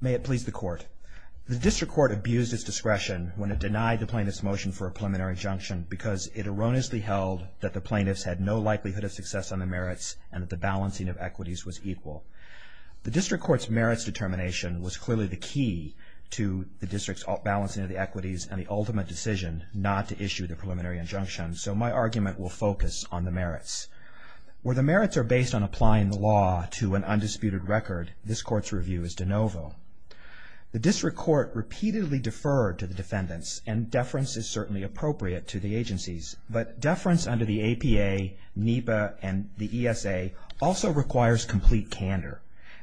May it please the Court. The District Court abused its discretion when it denied the plaintiff's motion for a preliminary injunction because it erroneously held that the plaintiffs had no likelihood of success on the merits and that the balancing of equities was equal. The District Court's merits determination was clearly the key to the District's balancing of the equities and the ultimate decision not to issue the preliminary injunction, so my argument will focus on the merits. Where the merits are based on applying the law to an undisputed record, this Court's review is de novo. The District Court repeatedly deferred to the defendants and deference is certainly appropriate to the agencies, but deference under the APA, NEPA, and the ESA also requires complete candor.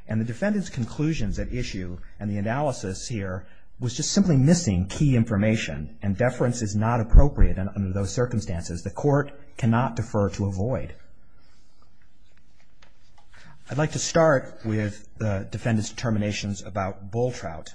And the defendants' conclusions at issue and the analysis here was just simply missing key information and deference is not appropriate under those circumstances. The Court cannot defer to avoid. I'd like to start with the defendants' determinations about bull trout.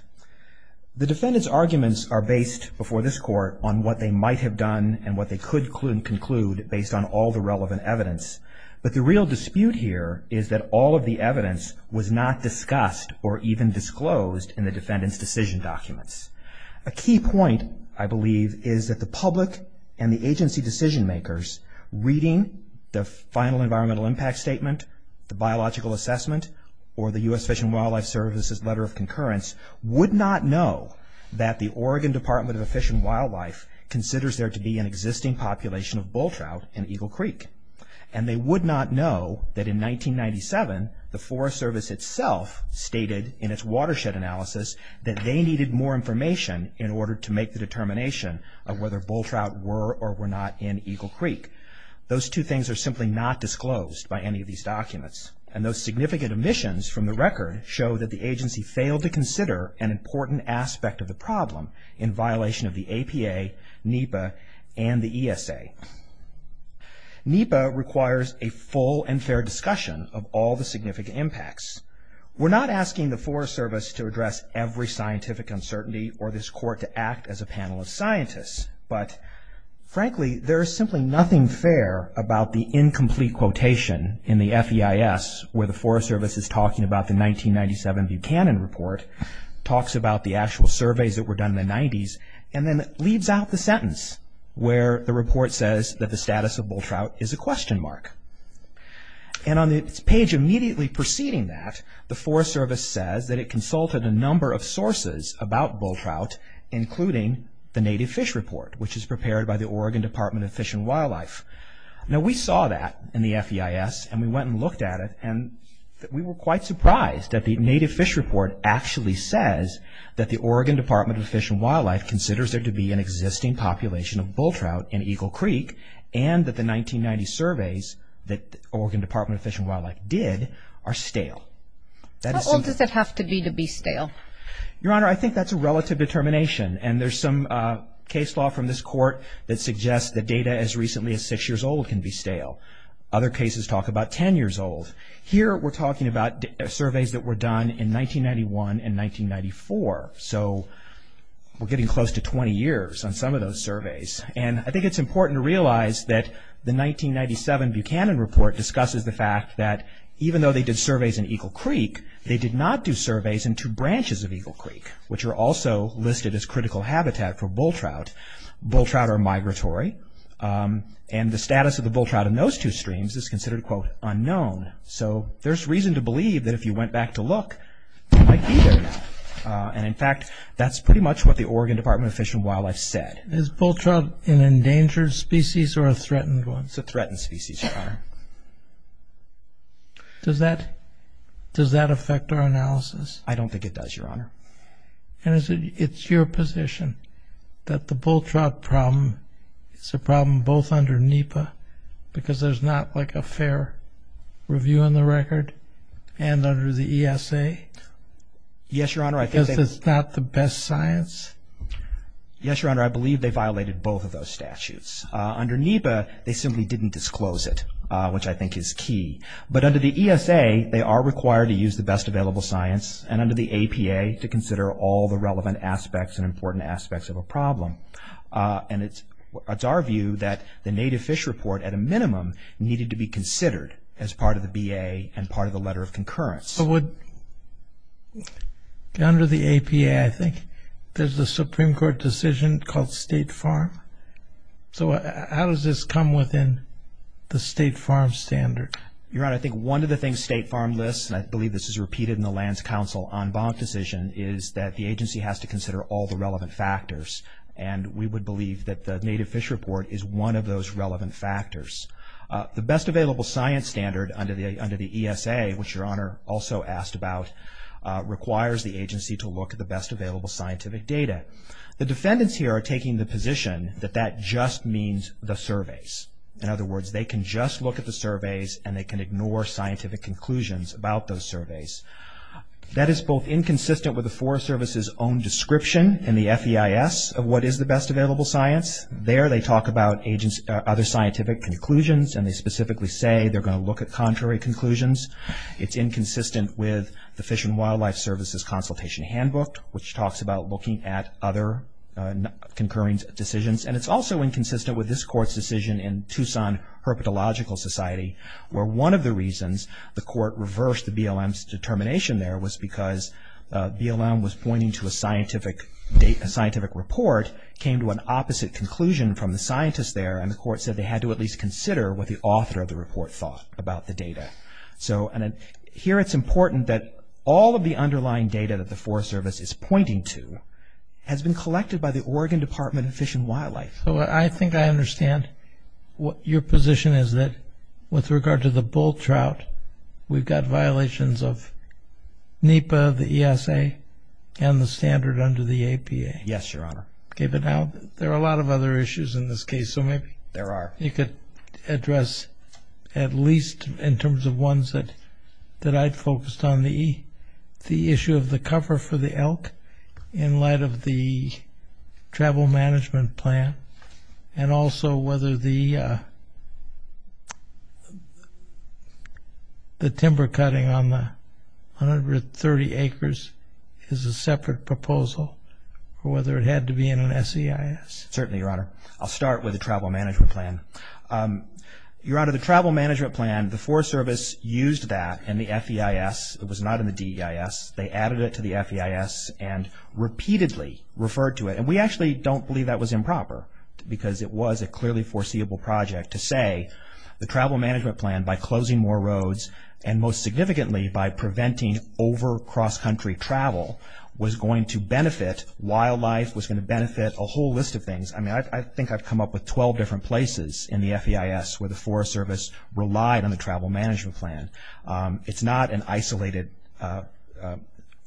The defendants' arguments are based before this Court on what they might have done and what they could conclude based on all the relevant evidence, but the real dispute here is that all of the evidence was not discussed or even disclosed in the defendants' decision documents. A key point, I believe, is that the public and the agency decision makers reading the final environmental impact statement, the biological assessment, or the U.S. Fish and Wildlife Service's letter of concurrence would not know that the Oregon Department of Fish and Wildlife considers there to be an existing population of bull trout in Eagle Creek. And they would not know that in 1997, the Forest Service itself stated in its watershed analysis that they needed more information in order to make the determination of whether bull trout were or were not in Eagle Creek. Those two things are simply not disclosed by any of these documents. And those significant omissions from the record show that the agency failed to consider an important aspect of the problem in violation of the APA, NEPA, and the ESA. NEPA requires a full and fair discussion of all the significant impacts. We're not asking the Forest Service to address every scientific uncertainty or this court to act as a panel of scientists. But, frankly, there is simply nothing fair about the incomplete quotation in the FEIS where the Forest Service is talking about the 1997 Buchanan report, talks about the actual surveys that were done in the 90s, and then leaves out the sentence where the report says that the status of bull trout is a question mark. And on the page immediately preceding that, the Forest Service says that it consulted a number of sources about bull trout, including the Native Fish Report, which is prepared by the Oregon Department of Fish and Wildlife. Now, we saw that in the FEIS, and we went and looked at it, and we were quite surprised that the Native Fish Report actually says that the Oregon Department of Fish and Wildlife considers there to be an existing population of bull trout in Eagle Creek, and that the 1990 surveys that Oregon Department of Fish and Wildlife did are stale. How old does it have to be to be stale? Your Honor, I think that's a relative determination, and there's some case law from this court that suggests that data as recently as 6 years old can be stale. Other cases talk about 10 years old. Here, we're talking about surveys that were done in 1991 and 1994, so we're getting close to 20 years on some of those surveys. And I think it's important to realize that the 1997 Buchanan Report discusses the fact that even though they did surveys in Eagle Creek, they did not do surveys in two branches of Eagle Creek, which are also listed as critical habitat for bull trout. Bull trout are migratory, and the status of the bull trout in those two streams is considered, quote, unknown. So there's reason to believe that if you went back to look, they might be there now. And in fact, that's pretty much what the Oregon Department of Fish and Wildlife said. Is bull trout an endangered species or a threatened one? It's a threatened species, Your Honor. Does that affect our analysis? I don't think it does, Your Honor. And it's your position that the bull trout problem is a problem both under NEPA, because there's not, like, a fair review on the record, and under the ESA? Yes, Your Honor. Because it's not the best science? Yes, Your Honor. I believe they violated both of those statutes. Under NEPA, they simply didn't disclose it, which I think is key. But under the ESA, they are required to use the best available science, and under the APA to consider all the relevant aspects and important aspects of a problem. And it's our view that the Native Fish Report, at a minimum, needed to be considered as part of the BA and part of the letter of concurrence. Under the APA, I think, there's a Supreme Court decision called State Farm. So how does this come within the State Farm standard? Your Honor, I think one of the things State Farm lists, and I believe this is repeated in the Lands Council en banc decision, is that the agency has to consider all the relevant factors, and we would believe that the Native Fish Report is one of those relevant factors. The best available science standard under the ESA, which Your Honor also asked about, requires the agency to look at the best available scientific data. The defendants here are taking the position that that just means the surveys. In other words, they can just look at the surveys and they can ignore scientific conclusions about those surveys. That is both inconsistent with the Forest Service's own description in the FEIS of what is the best available science. There they talk about other scientific conclusions, and they specifically say they're going to look at contrary conclusions. It's inconsistent with the Fish and Wildlife Service's consultation handbook, which talks about looking at other concurrence decisions. And it's also inconsistent with this Court's decision in Tucson Herpetological Society, where one of the reasons the Court reversed the BLM's determination there was because BLM was pointing to a scientific report and the Court came to an opposite conclusion from the scientists there, and the Court said they had to at least consider what the author of the report thought about the data. So here it's important that all of the underlying data that the Forest Service is pointing to has been collected by the Oregon Department of Fish and Wildlife. So I think I understand your position is that with regard to the bull trout, we've got violations of NEPA, the ESA, and the standard under the APA. Yes, Your Honor. Okay, but now there are a lot of other issues in this case, so maybe you could address, at least in terms of ones that I'd focused on, the issue of the cover for the elk in light of the travel management plan and also whether the timber cutting on the 130 acres is a separate proposal or whether it had to be in an SEIS. Certainly, Your Honor. I'll start with the travel management plan. Your Honor, the travel management plan, the Forest Service used that in the FEIS. It was not in the DEIS. They added it to the FEIS and repeatedly referred to it, and we actually don't believe that was improper because it was a clearly foreseeable project to say the travel management plan, by closing more roads and most significantly by preventing over cross-country travel, was going to benefit wildlife, was going to benefit a whole list of things. I mean, I think I've come up with 12 different places in the FEIS where the Forest Service relied on the travel management plan. It's not an isolated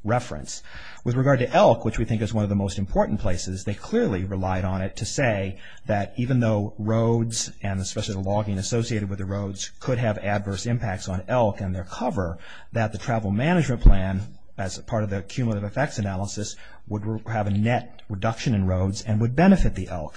reference. With regard to elk, which we think is one of the most important places, they clearly relied on it to say that even though roads, and especially the logging associated with the roads, could have adverse impacts on elk and their cover, that the travel management plan, as part of the cumulative effects analysis, would have a net reduction in roads and would benefit the elk.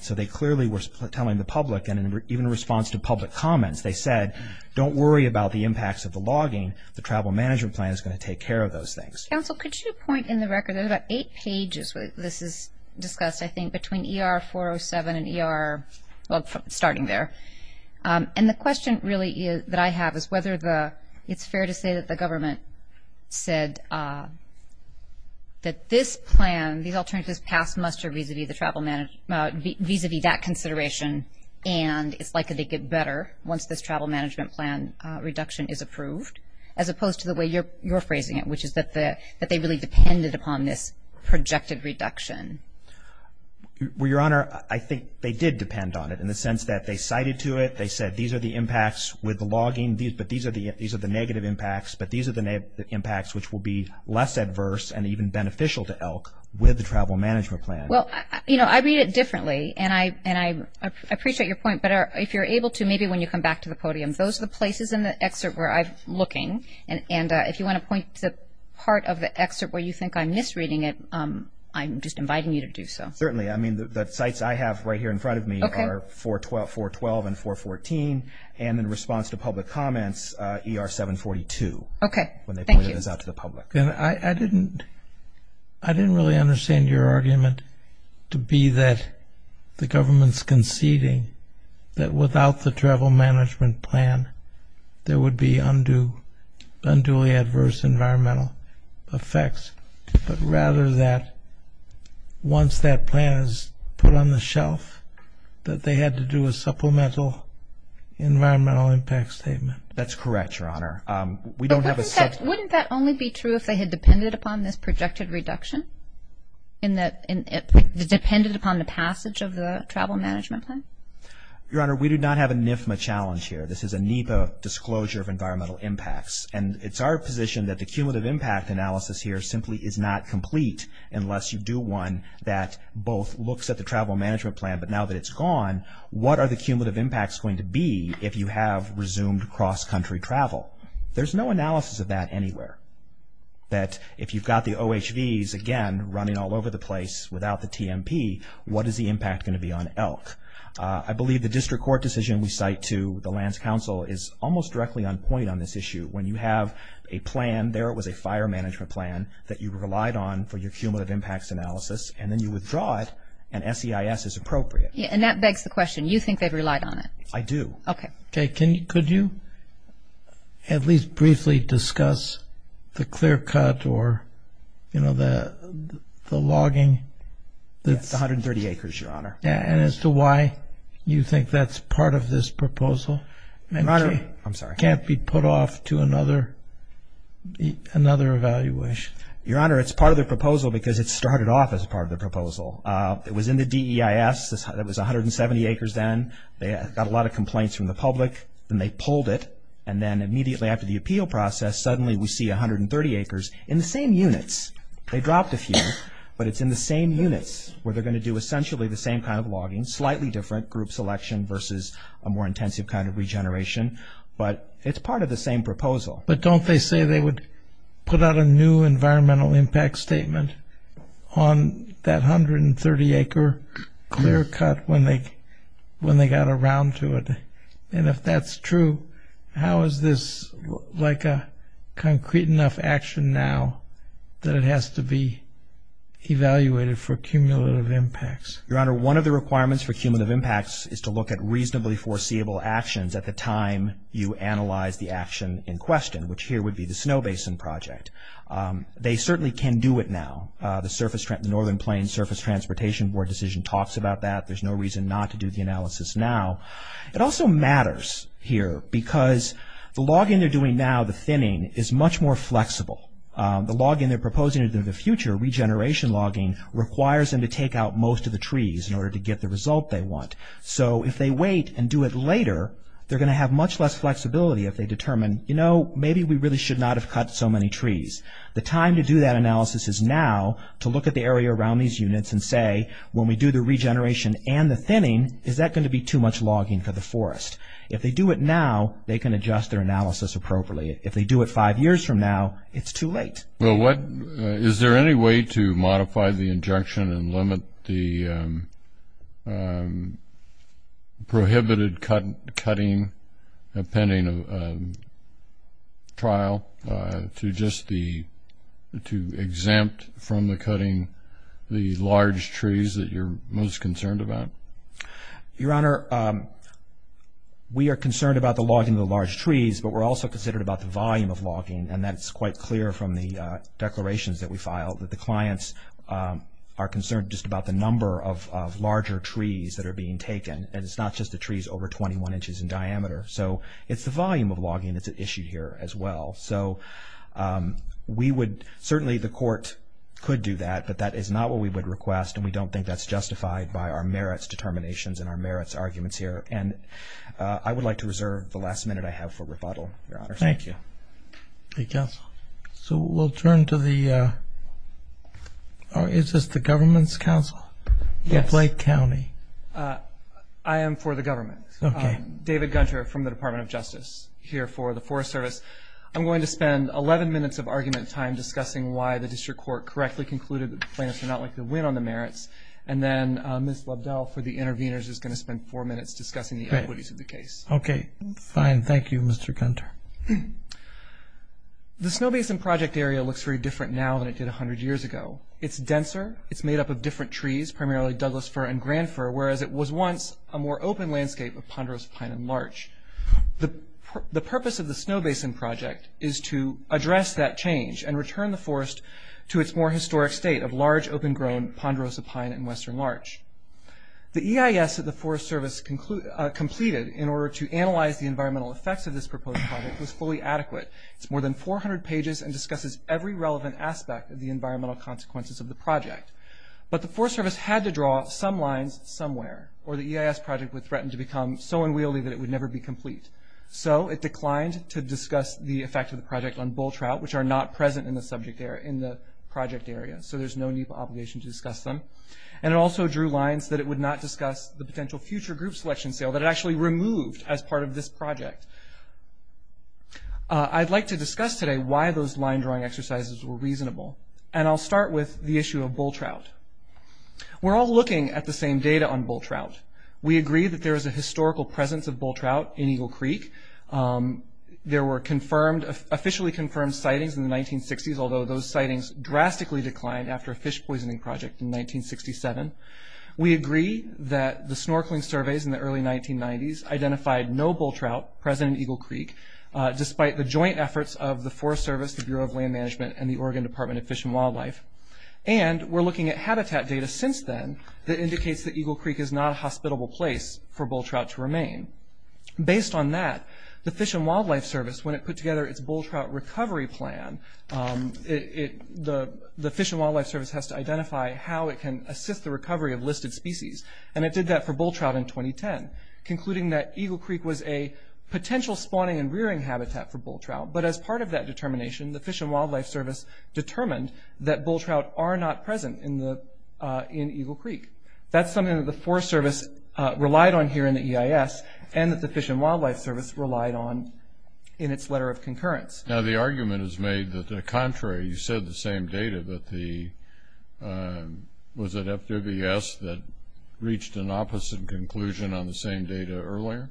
So they clearly were telling the public, and even in response to public comments, they said don't worry about the impacts of the logging. The travel management plan is going to take care of those things. Counsel, could you point in the record, there's about eight pages, this is discussed, I think, between ER 407 and ER, well, starting there. And the question really that I have is whether it's fair to say that the government said that this plan, these alternatives pass muster vis-a-vis that consideration, and it's likely to get better once this travel management plan reduction is approved, as opposed to the way you're phrasing it, which is that they really depended upon this projected reduction. Well, Your Honor, I think they did depend on it in the sense that they cited to it, they said these are the impacts with the logging, but these are the negative impacts, but these are the impacts which will be less adverse and even beneficial to elk with the travel management plan. Well, you know, I read it differently, and I appreciate your point, but if you're able to, maybe when you come back to the podium, those are the places in the excerpt where I'm looking, and if you want to point to part of the excerpt where you think I'm misreading it, I'm just inviting you to do so. Certainly. I mean, the sites I have right here in front of me are 412 and 414, and in response to public comments, ER 742. Okay, thank you. When they pointed this out to the public. I didn't really understand your argument to be that the government's conceding that without the travel management plan, there would be unduly adverse environmental effects, but rather that once that plan is put on the shelf, that they had to do a supplemental environmental impact statement. That's correct, Your Honor. Wouldn't that only be true if they had depended upon this projected reduction, depended upon the passage of the travel management plan? Your Honor, we do not have a NIFMA challenge here. This is a NEPA disclosure of environmental impacts, and it's our position that the cumulative impact analysis here simply is not complete unless you do one that both looks at the travel management plan, but now that it's gone, what are the cumulative impacts going to be if you have resumed cross-country travel? There's no analysis of that anywhere. That if you've got the OHVs, again, running all over the place without the TMP, what is the impact going to be on elk? I believe the district court decision we cite to the lands council is almost directly on point on this issue. When you have a plan, there it was a fire management plan, that you relied on for your cumulative impacts analysis, and then you withdraw it and SEIS is appropriate. And that begs the question. You think they've relied on it? I do. Okay. Jay, could you at least briefly discuss the clear cut or, you know, the logging? It's 130 acres, Your Honor. And as to why you think that's part of this proposal? I'm sorry. It can't be put off to another evaluation? Your Honor, it's part of the proposal because it started off as part of the proposal. It was in the DEIS. It was 170 acres then. They got a lot of complaints from the public. Then they pulled it. And then immediately after the appeal process, suddenly we see 130 acres in the same units. They dropped a few, but it's in the same units where they're going to do essentially the same kind of logging, slightly different group selection versus a more intensive kind of regeneration. But it's part of the same proposal. But don't they say they would put out a new environmental impact statement on that 130-acre clear cut when they got around to it? And if that's true, how is this like a concrete enough action now that it has to be evaluated for cumulative impacts? Your Honor, one of the requirements for cumulative impacts is to look at reasonably foreseeable actions at the time you analyze the action in question, which here would be the snow basin project. They certainly can do it now. The Northern Plains Surface Transportation Board decision talks about that. There's no reason not to do the analysis now. It also matters here because the logging they're doing now, the thinning, is much more flexible. The logging they're proposing in the future, regeneration logging, requires them to take out most of the trees in order to get the result they want. So if they wait and do it later, they're going to have much less flexibility if they determine, you know, maybe we really should not have cut so many trees. The time to do that analysis is now to look at the area around these units and say, when we do the regeneration and the thinning, is that going to be too much logging for the forest? If they do it now, they can adjust their analysis appropriately. If they do it five years from now, it's too late. Well, is there any way to modify the injunction and limit the prohibited cutting pending trial to just the – to exempt from the cutting the large trees that you're most concerned about? Your Honor, we are concerned about the logging of the large trees, but we're also concerned about the volume of logging, and that's quite clear from the declarations that we filed, that the clients are concerned just about the number of larger trees that are being taken, and it's not just the trees over 21 inches in diameter. So it's the volume of logging that's issued here as well. So we would – certainly the court could do that, but that is not what we would request, and we don't think that's justified by our merits determinations and our merits arguments here. And I would like to reserve the last minute I have for rebuttal, Your Honor. Thank you. Thank you, counsel. So we'll turn to the – is this the Government's counsel? Yes. Blake County. I am for the government. Okay. David Gunter from the Department of Justice here for the Forest Service. I'm going to spend 11 minutes of argument time discussing why the district court correctly concluded that the plaintiffs are not likely to win on the merits, and then Ms. Lobdell for the interveners is going to spend four minutes discussing the equities of the case. Okay. Fine. Thank you, Mr. Gunter. The Snow Basin Project area looks very different now than it did 100 years ago. It's denser. It's made up of different trees, primarily Douglas fir and grand fir, whereas it was once a more open landscape of ponderosa pine and larch. The purpose of the Snow Basin Project is to address that change and return the forest to its more historic state of large, open-grown ponderosa pine and western larch. The EIS that the Forest Service completed in order to analyze the environmental effects of this proposed project was fully adequate. It's more than 400 pages and discusses every relevant aspect of the environmental consequences of the project. But the Forest Service had to draw some lines somewhere, or the EIS project would threaten to become so unwieldy that it would never be complete. So it declined to discuss the effect of the project on bull trout, which are not present in the subject area, in the project area, so there's no need for obligation to discuss them. And it also drew lines that it would not discuss the potential future group selection sale that it actually removed as part of this project. I'd like to discuss today why those line-drawing exercises were reasonable, and I'll start with the issue of bull trout. We're all looking at the same data on bull trout. We agree that there is a historical presence of bull trout in Eagle Creek. There were officially confirmed sightings in the 1960s, although those sightings drastically declined after a fish poisoning project in 1967. We agree that the snorkeling surveys in the early 1990s identified no bull trout present in Eagle Creek, despite the joint efforts of the Forest Service, the Bureau of Land Management, and the Oregon Department of Fish and Wildlife. And we're looking at habitat data since then that indicates that Eagle Creek is not a hospitable place for bull trout to remain. Based on that, the Fish and Wildlife Service, when it put together its bull trout recovery plan, the Fish and Wildlife Service has to identify how it can assist the recovery of listed species. And it did that for bull trout in 2010, concluding that Eagle Creek was a potential spawning and rearing habitat for bull trout. But as part of that determination, the Fish and Wildlife Service determined that bull trout are not present in Eagle Creek. That's something that the Forest Service relied on here in the EIS, and that the Fish and Wildlife Service relied on in its letter of concurrence. Now, the argument is made that the contrary, you said the same data, but was it FWS that reached an opposite conclusion on the same data earlier?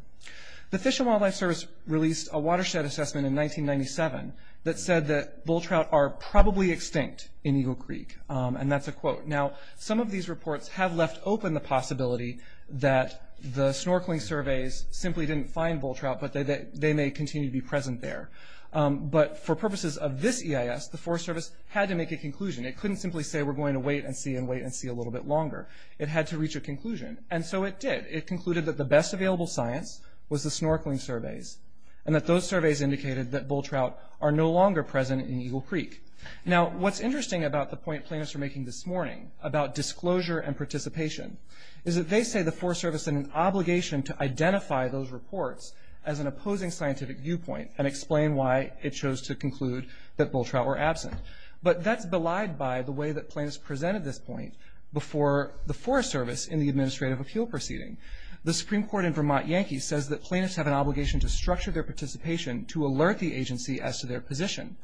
The Fish and Wildlife Service released a watershed assessment in 1997 that said that bull trout are probably extinct in Eagle Creek, and that's a quote. Now, some of these reports have left open the possibility that the snorkeling surveys simply didn't find bull trout, but they may continue to be present there. But for purposes of this EIS, the Forest Service had to make a conclusion. It couldn't simply say we're going to wait and see and wait and see a little bit longer. It had to reach a conclusion, and so it did. It concluded that the best available science was the snorkeling surveys, and that those surveys indicated that bull trout are no longer present in Eagle Creek. Now, what's interesting about the point plaintiffs are making this morning about disclosure and participation is that they say the Forest Service had an obligation to identify those reports as an opposing scientific viewpoint and explain why it chose to conclude that bull trout were absent. But that's belied by the way that plaintiffs presented this point before the Forest Service in the administrative appeal proceeding. The Supreme Court in Vermont Yankee says that plaintiffs have an obligation to structure their participation to alert the agency as to their position.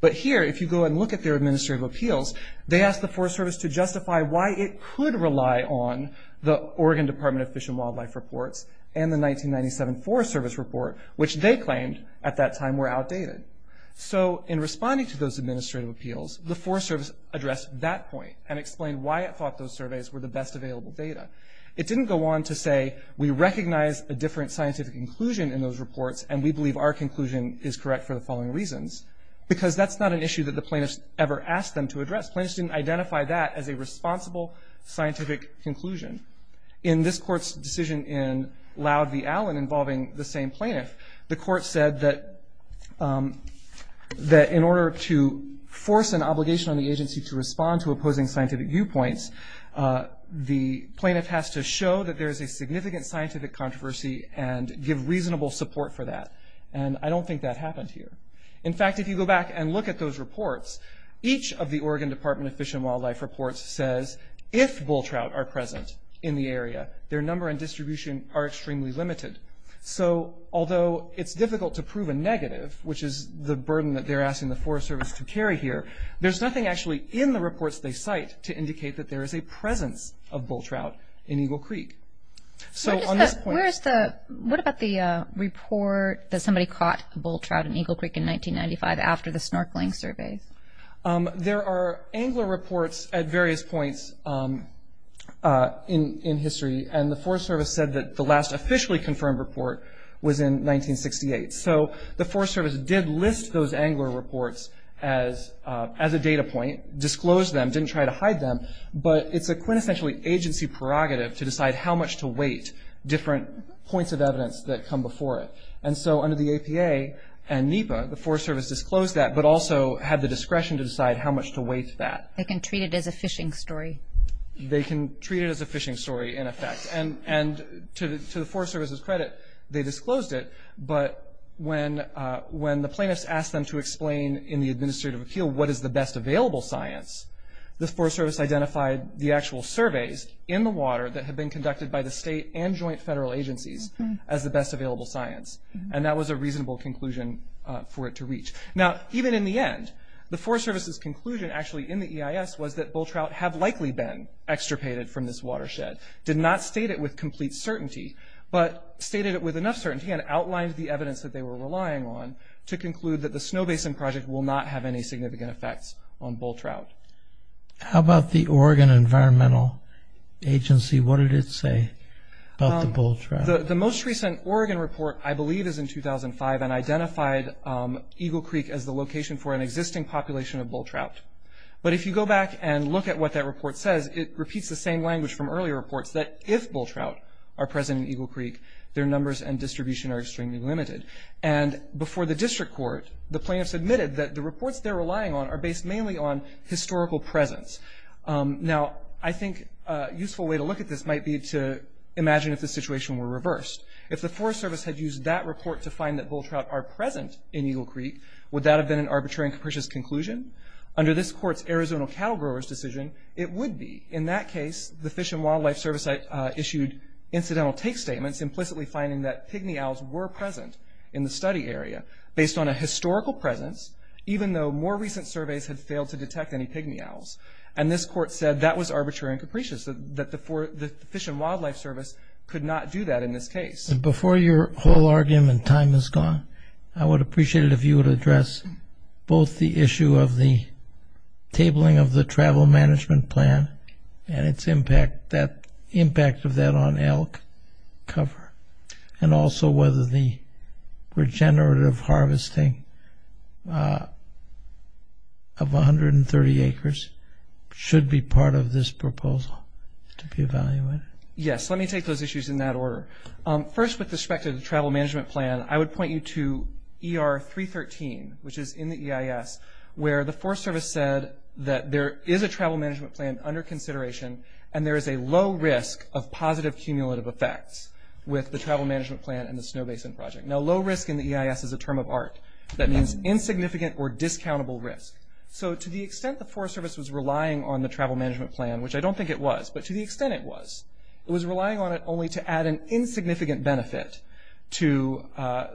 But here, if you go and look at their administrative appeals, they ask the Forest Service to justify why it could rely on the Oregon Department of Fish and Wildlife reports and the 1997 Forest Service report, which they claimed at that time were outdated. So in responding to those administrative appeals, the Forest Service addressed that point and explained why it thought those surveys were the best available data. It didn't go on to say we recognize a different scientific conclusion in those reports and we believe our conclusion is correct for the following reasons, because that's not an issue that the plaintiffs ever asked them to address. Plaintiffs didn't identify that as a responsible scientific conclusion. In this court's decision in Loud v. Allen involving the same plaintiff, the court said that in order to force an obligation on the agency to respond to opposing scientific viewpoints, the plaintiff has to show that there is a significant scientific controversy and give reasonable support for that. And I don't think that happened here. In fact, if you go back and look at those reports, each of the Oregon Department of Fish and Wildlife reports says if bull trout are present in the area, their number and distribution are extremely limited. So although it's difficult to prove a negative, which is the burden that they're asking the Forest Service to carry here, there's nothing actually in the reports they cite to indicate that there is a presence of bull trout in Eagle Creek. What about the report that somebody caught bull trout in Eagle Creek in 1995 after the snorkeling surveys? There are angler reports at various points in history, and the Forest Service said that the last officially confirmed report was in 1968. So the Forest Service did list those angler reports as a data point, disclosed them, didn't try to hide them, but it's a quintessentially agency prerogative to decide how much to weight different points of evidence that come before it. And so under the APA and NEPA, the Forest Service disclosed that, but also had the discretion to decide how much to weight that. They can treat it as a fishing story. They can treat it as a fishing story in effect. And to the Forest Service's credit, they disclosed it, but when the plaintiffs asked them to explain in the administrative appeal what is the best available science, the Forest Service identified the actual surveys in the water that had been conducted by the state and joint federal agencies as the best available science. And that was a reasonable conclusion for it to reach. Now even in the end, the Forest Service's conclusion actually in the EIS was that bull trout have likely been extirpated from this watershed. Did not state it with complete certainty, but stated it with enough certainty and outlined the evidence that they were relying on to conclude that the Snow Basin Project will not have any significant effects on bull trout. How about the Oregon Environmental Agency? What did it say about the bull trout? The most recent Oregon report I believe is in 2005 and identified Eagle Creek as the location for an existing population of bull trout. But if you go back and look at what that report says, it repeats the same language from earlier reports that if bull trout are present in Eagle Creek, their numbers and distribution are extremely limited. And before the district court, the plaintiffs admitted that the reports they're relying on are based mainly on historical presence. Now I think a useful way to look at this might be to imagine if the situation were reversed. If the Forest Service had used that report to find that bull trout are present in Eagle Creek, would that have been an arbitrary and capricious conclusion? Under this court's Arizona cattle growers decision, it would be. In that case, the Fish and Wildlife Service issued incidental take statements implicitly finding that pygmy owls were present in the study area based on a historical presence, even though more recent surveys had failed to detect any pygmy owls. And this court said that was arbitrary and capricious, that the Fish and Wildlife Service could not do that in this case. Before your whole argument time is gone, I would appreciate it if you would address both the issue of the tabling of the travel management plan and its impact of that on elk cover, and also whether the regenerative harvesting of 130 acres should be part of this proposal to be evaluated. Yes, let me take those issues in that order. First, with respect to the travel management plan, I would point you to ER 313, which is in the EIS, where the Forest Service said that there is a travel management plan under consideration and there is a low risk of positive cumulative effects with the travel management plan and the Snow Basin Project. Now, low risk in the EIS is a term of art. That means insignificant or discountable risk. So to the extent the Forest Service was relying on the travel management plan, which I don't think it was, but to the extent it was, it was relying on it only to add an insignificant benefit to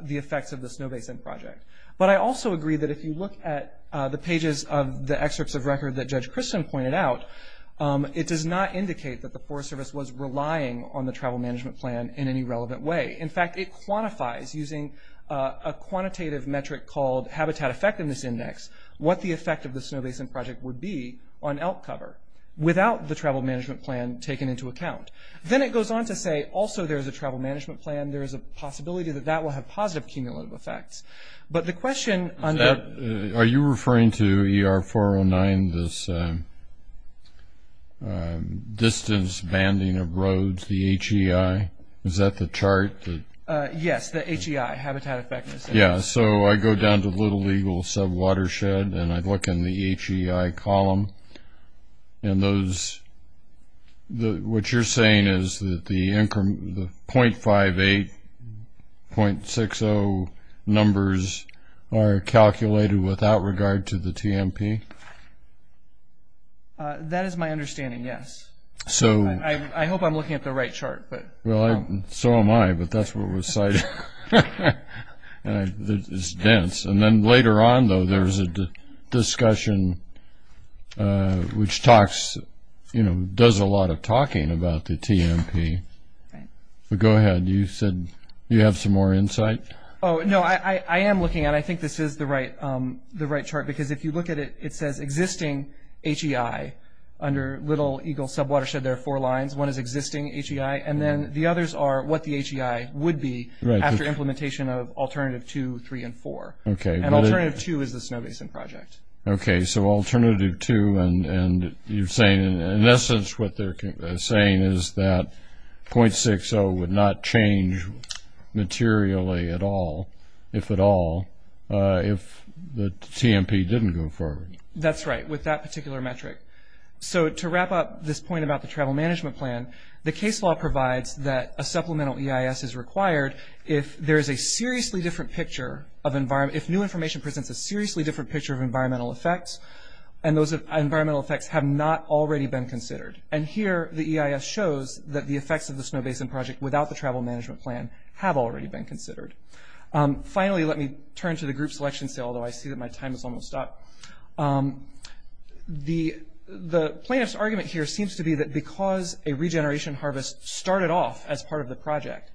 the effects of the Snow Basin Project. But I also agree that if you look at the pages of the excerpts of record that Judge Christen pointed out, it does not indicate that the Forest Service was relying on the travel management plan in any relevant way. In fact, it quantifies using a quantitative metric called Habitat Effectiveness Index what the effect of the Snow Basin Project would be on elk cover without the travel management plan taken into account. Then it goes on to say also there is a travel management plan, there is a possibility that that will have positive cumulative effects. Are you referring to ER-409, this distance banding of roads, the HEI? Is that the chart? Yes, the HEI, Habitat Effectiveness Index. Yeah, so I go down to Little Eagle Sub-Watershed and I look in the HEI column, and what you're saying is that the 0.58, 0.60 numbers are calculated without regard to the TMP? That is my understanding, yes. I hope I'm looking at the right chart. Well, so am I, but that's what was cited. It's dense. And then later on, though, there was a discussion which does a lot of talking about the TMP. Go ahead, you said you have some more insight? No, I am looking, and I think this is the right chart, because if you look at it, it says existing HEI under Little Eagle Sub-Watershed. There are four lines. One is existing HEI, and then the others are what the HEI would be after implementation of Alternative 2, 3, and 4. And Alternative 2 is the Snow Basin Project. Okay, so Alternative 2, and you're saying, in essence, what they're saying is that 0.60 would not change materially at all, if at all, if the TMP didn't go forward. That's right, with that particular metric. So to wrap up this point about the Travel Management Plan, the case law provides that a supplemental EIS is required if new information presents a seriously different picture of environmental effects, and those environmental effects have not already been considered. And here, the EIS shows that the effects of the Snow Basin Project without the Travel Management Plan have already been considered. Finally, let me turn to the group selection, although I see that my time is almost up. The plaintiff's argument here seems to be that because a regeneration harvest started off as part of the project,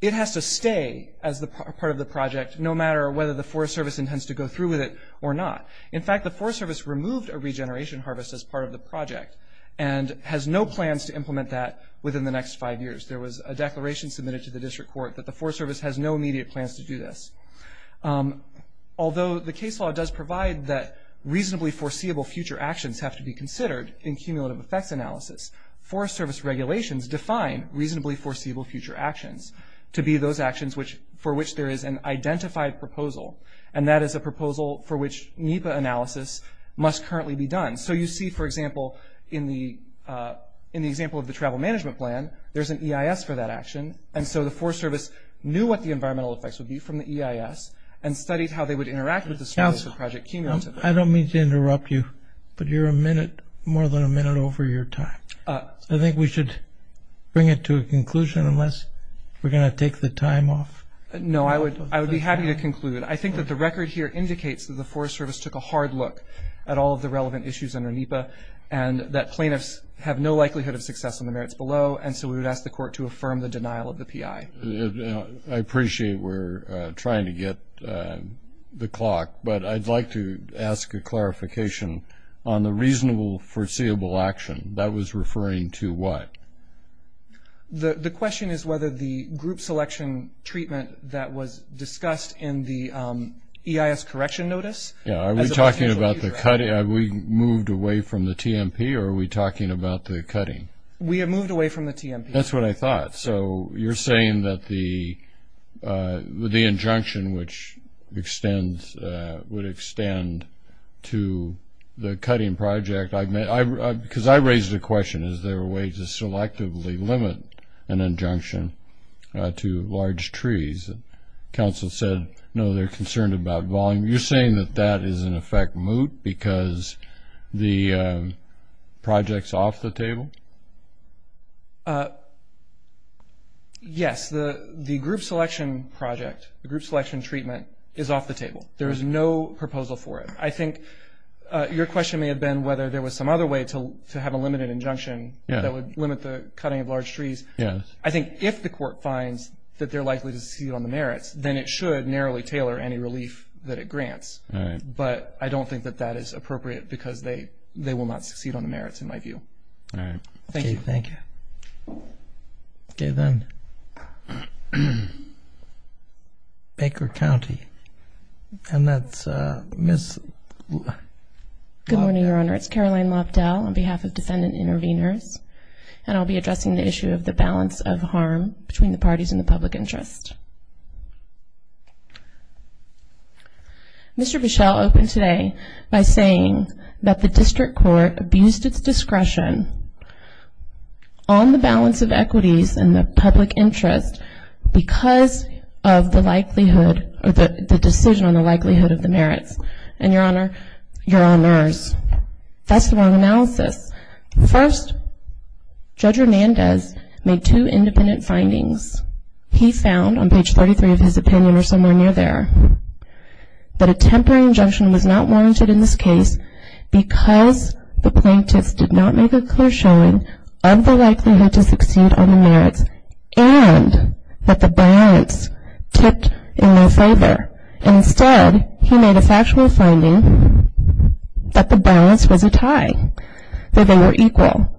it has to stay as part of the project, no matter whether the Forest Service intends to go through with it or not. In fact, the Forest Service removed a regeneration harvest as part of the project and has no plans to implement that within the next five years. There was a declaration submitted to the District Court that the Forest Service has no immediate plans to do this. Although the case law does provide that reasonably foreseeable future actions have to be considered in cumulative effects analysis, Forest Service regulations define reasonably foreseeable future actions to be those actions for which there is an identified proposal, and that is a proposal for which NEPA analysis must currently be done. So you see, for example, in the example of the Travel Management Plan, there's an EIS for that action, and so the Forest Service knew what the environmental effects would be from the EIS and studied how they would interact with the Snow Basin Project cumulatively. I don't mean to interrupt you, but you're a minute, more than a minute over your time. I think we should bring it to a conclusion unless we're going to take the time off. No, I would be happy to conclude. I think that the record here indicates that the Forest Service took a hard look at all of the relevant issues under NEPA and that plaintiffs have no likelihood of success in the merits below, and so we would ask the Court to affirm the denial of the PI. I appreciate we're trying to get the clock, but I'd like to ask a clarification on the reasonable foreseeable action. That was referring to what? The question is whether the group selection treatment that was discussed in the EIS correction notice. Are we talking about the cutting? Have we moved away from the TMP, or are we talking about the cutting? We have moved away from the TMP. That's what I thought. So you're saying that the injunction, which would extend to the cutting project, because I raised the question, is there a way to selectively limit an injunction to large trees? Council said, no, they're concerned about volume. You're saying that that is, in effect, moot because the project's off the table? Yes. The group selection project, the group selection treatment is off the table. There is no proposal for it. I think your question may have been whether there was some other way to have a limited injunction that would limit the cutting of large trees. I think if the Court finds that they're likely to succeed on the merits, then it should narrowly tailor any relief that it grants. All right. But I don't think that that is appropriate because they will not succeed on the merits, in my view. All right. Thank you. Thank you. Okay, then. Baker County. And that's Ms. Lopdell. Good morning, Your Honor. It's Caroline Lopdell on behalf of Defendant Intervenors. And I'll be addressing the issue of the balance of harm between the parties and the public interest. Mr. Bichelle opened today by saying that the district court abused its discretion on the balance of equities and the public interest because of the likelihood or the decision on the likelihood of the merits. And, Your Honor, Your Honors, that's the wrong analysis. First, Judge Hernandez made two independent findings. He found, on page 33 of his opinion or somewhere near there, that a temporary injunction was not warranted in this case because the plaintiffs did not make a clear showing of the likelihood to succeed on the merits and that the balance tipped in their favor. And instead, he made a factual finding that the balance was a tie, that they were equal.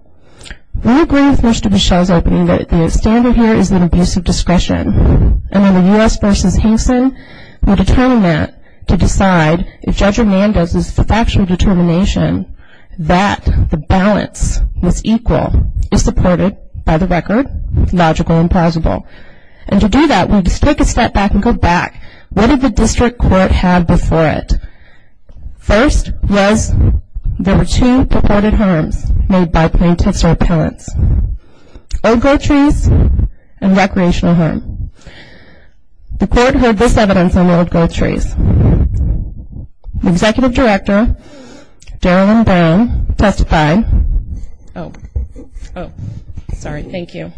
We agree with Mr. Bichelle's opening that the standard here is an abuse of discretion. And in the U.S. v. Henson, we determine that to decide if Judge Hernandez's factual determination that the balance was equal is supported by the record, logical and plausible. And to do that, we just take a step back and go back. What did the district court have before it? First was there were two reported harms made by plaintiffs or appellants, old-growth trees and recreational harm. The court heard this evidence on the old-growth trees. The executive director, Daryl M. Brown, testified. Oh, sorry. Thank you.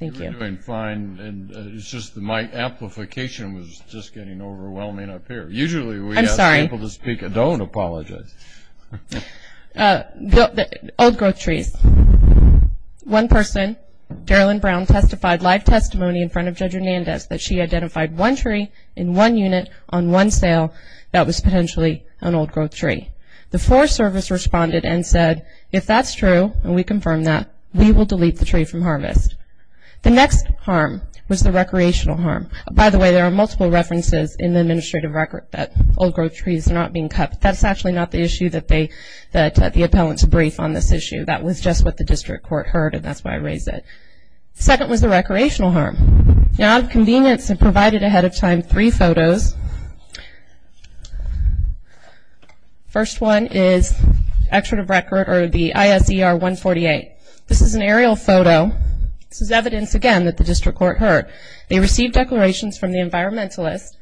Thank you. You're doing fine. It's just my amplification was just getting overwhelming up here. Usually we ask people to speak. I'm sorry. Don't apologize. Old-growth trees. One person, Daryl M. Brown, testified live testimony in front of Judge Hernandez that she identified one tree in one unit on one sale that was potentially an old-growth tree. The Forest Service responded and said, if that's true, and we confirm that, we will delete the tree from harvest. The next harm was the recreational harm. By the way, there are multiple references in the administrative record that old-growth trees are not being cut, but that's actually not the issue that the appellants brief on this issue. That was just what the district court heard, and that's why I raised it. Second was the recreational harm. Now, out of convenience, I provided ahead of time three photos. The first one is the ISER 148. This is an aerial photo. This is evidence, again, that the district court heard. They received declarations from the environmentalists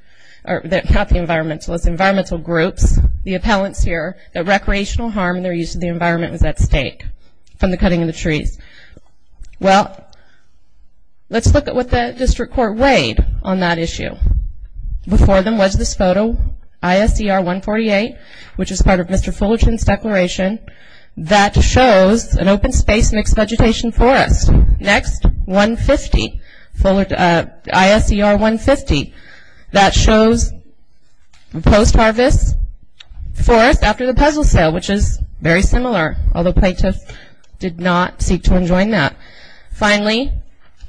or not the environmentalists, environmental groups, the appellants here, that recreational harm and their use of the environment was at stake from the cutting of the trees. Well, let's look at what the district court weighed on that issue. Before them was this photo, ISER 148, which is part of Mr. Fullerton's declaration, that shows an open-space mixed-vegetation forest. Next, ISER 150, that shows post-harvest forest after the puzzle sale, which is very similar, although plaintiffs did not seek to enjoin that. Finally,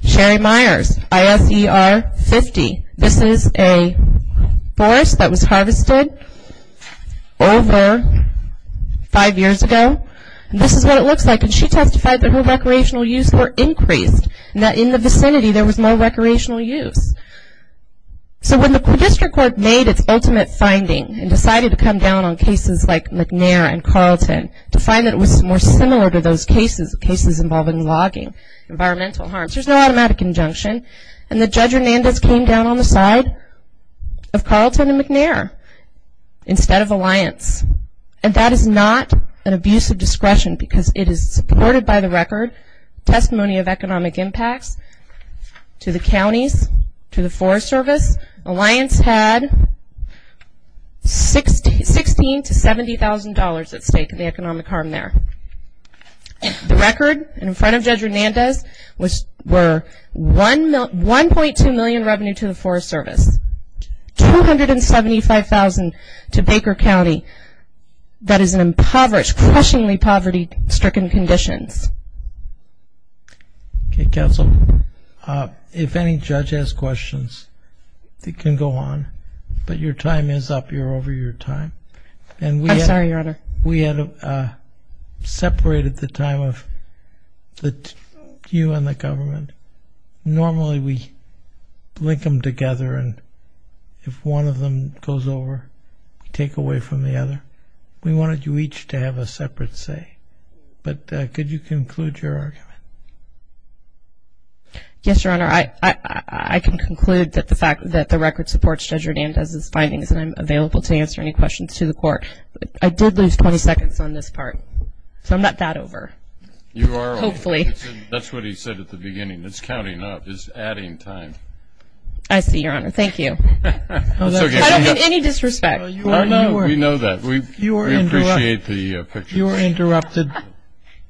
Sherry Myers, ISER 50. This is a forest that was harvested over five years ago. This is what it looks like, and she testified that her recreational use were increased and that in the vicinity there was more recreational use. So when the district court made its ultimate finding and decided to come down on cases like McNair and Carlton to find that it was more similar to those cases, cases involving logging, environmental harms, there's no automatic injunction, and Judge Hernandez came down on the side of Carlton and McNair instead of Alliance, and that is not an abuse of discretion because it is supported by the record, testimony of economic impacts to the counties, to the Forest Service. Alliance had $16,000 to $70,000 at stake in the economic harm there. The record in front of Judge Hernandez were $1.2 million revenue to the Forest Service, $275,000 to Baker County that is in impoverished, crushingly poverty-stricken conditions. Okay, Counsel, if any judge has questions, they can go on, but your time is up. You're over your time. I'm sorry, Your Honor. We had separated the time of you and the government. Normally we link them together, and if one of them goes over, we take away from the other. We wanted you each to have a separate say, but could you conclude your argument? Yes, Your Honor. I can conclude that the record supports Judge Hernandez's findings, and I'm available to answer any questions to the Court. I did lose 20 seconds on this part, so I'm not that over. You are over. Hopefully. That's what he said at the beginning. It's counting up. It's adding time. I see, Your Honor. Thank you. I don't mean any disrespect. We know that. We appreciate the pictures. You were interrupted.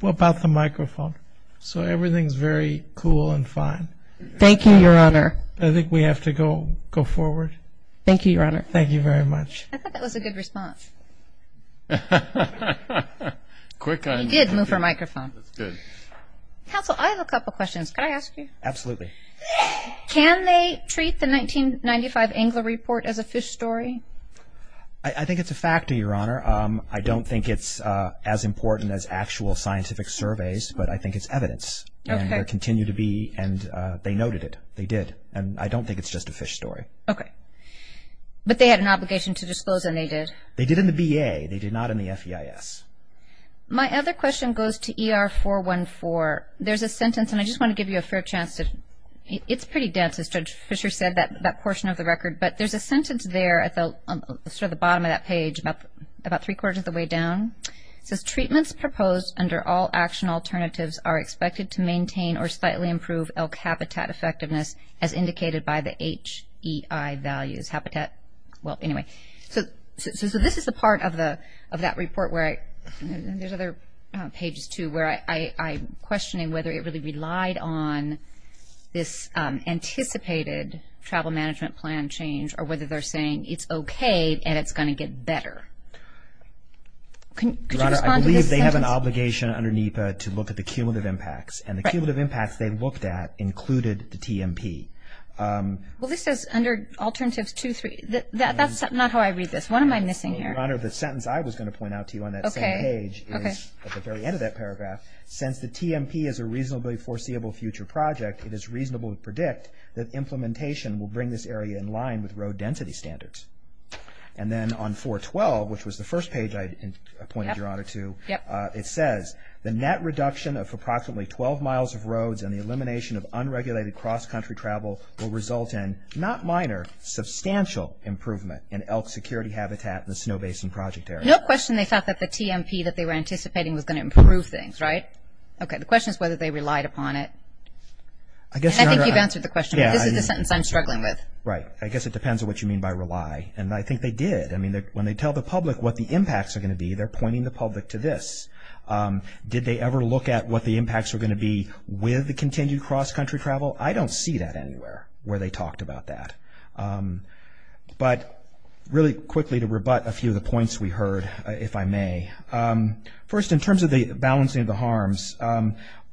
What about the microphone? So everything is very cool and fine. Thank you, Your Honor. I think we have to go forward. Thank you, Your Honor. Thank you very much. I thought that was a good response. He did move her microphone. That's good. Counsel, I have a couple of questions. Can I ask you? Absolutely. Can they treat the 1995 Engler Report as a fish story? I think it's a factor, Your Honor. I don't think it's as important as actual scientific surveys, but I think it's evidence. Okay. And there continue to be, and they noted it. They did. And I don't think it's just a fish story. Okay. But they had an obligation to disclose, and they did. They did in the BA. They did not in the FEIS. My other question goes to ER-414. There's a sentence, and I just want to give you a fair chance to – it's pretty dense, as Judge Fischer said, that portion of the record. But there's a sentence there at sort of the bottom of that page, about three-quarters of the way down. It says, treatments proposed under all action alternatives are expected to maintain or slightly improve elk habitat effectiveness as indicated by the HEI values. Habitat – well, anyway. So this is the part of that report where I – there's other pages, too, where I'm questioning whether it really relied on this anticipated travel management plan change, or whether they're saying it's okay and it's going to get better. Could you respond to this sentence? Your Honor, I believe they have an obligation under NEPA to look at the cumulative impacts. And the cumulative impacts they looked at included the TMP. Well, this says under alternatives two, three. That's not how I read this. What am I missing here? Your Honor, the sentence I was going to point out to you on that same page is, at the very end of that paragraph, since the TMP is a reasonably foreseeable future project, it is reasonable to predict that implementation will bring this area in line with road density standards. And then on 412, which was the first page I pointed your Honor to, it says, the net reduction of approximately 12 miles of roads and the elimination of unregulated cross-country travel will result in, not minor, substantial improvement in elk security habitat in the Snow Basin Project area. No question they thought that the TMP that they were anticipating was going to improve things, right? Okay. The question is whether they relied upon it. And I think you've answered the question. This is the sentence I'm struggling with. Right. I guess it depends on what you mean by rely. And I think they did. I mean, when they tell the public what the impacts are going to be, they're pointing the public to this. Did they ever look at what the impacts were going to be with the continued cross-country travel? I don't see that anywhere where they talked about that. But really quickly, to rebut a few of the points we heard, if I may. First, in terms of the balancing of the harms,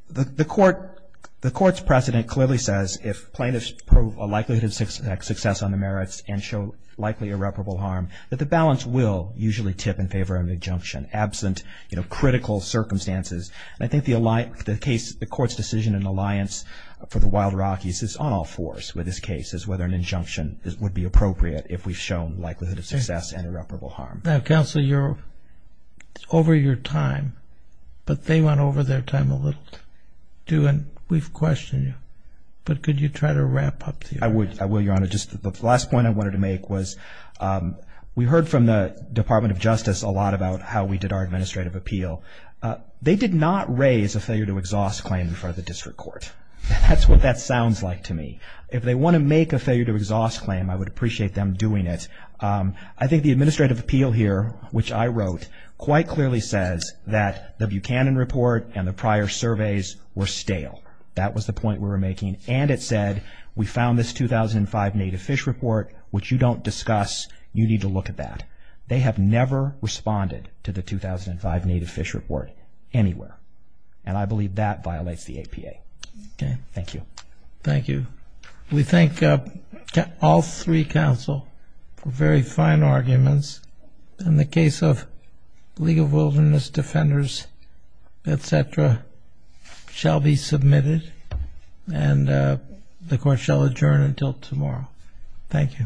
the Court's precedent clearly says if plaintiffs prove a likelihood of success on the merits and show likely irreparable harm, that the balance will usually tip in favor of an injunction, absent, you know, critical circumstances. And I think the Court's decision in the Alliance for the Wild Rockies is on all fours with this case, is whether an injunction would be appropriate if we've shown likelihood of success and irreparable harm. Now, Counsel, you're over your time, but they went over their time a little too, and we've questioned you. But could you try to wrap up here? I will, Your Honor. Just the last point I wanted to make was we heard from the Department of Justice a lot about how we did our administrative appeal. They did not raise a failure to exhaust claim before the district court. That's what that sounds like to me. If they want to make a failure to exhaust claim, I would appreciate them doing it. I think the administrative appeal here, which I wrote, quite clearly says that the Buchanan report and the prior surveys were stale. That was the point we were making. And it said we found this 2005 Native Fish Report, which you don't discuss. You need to look at that. They have never responded to the 2005 Native Fish Report anywhere. And I believe that violates the APA. Okay. Thank you. Thank you. We thank all three counsel for very fine arguments. And the case of League of Wilderness Defenders, et cetera, shall be submitted, and the court shall adjourn until tomorrow. Thank you.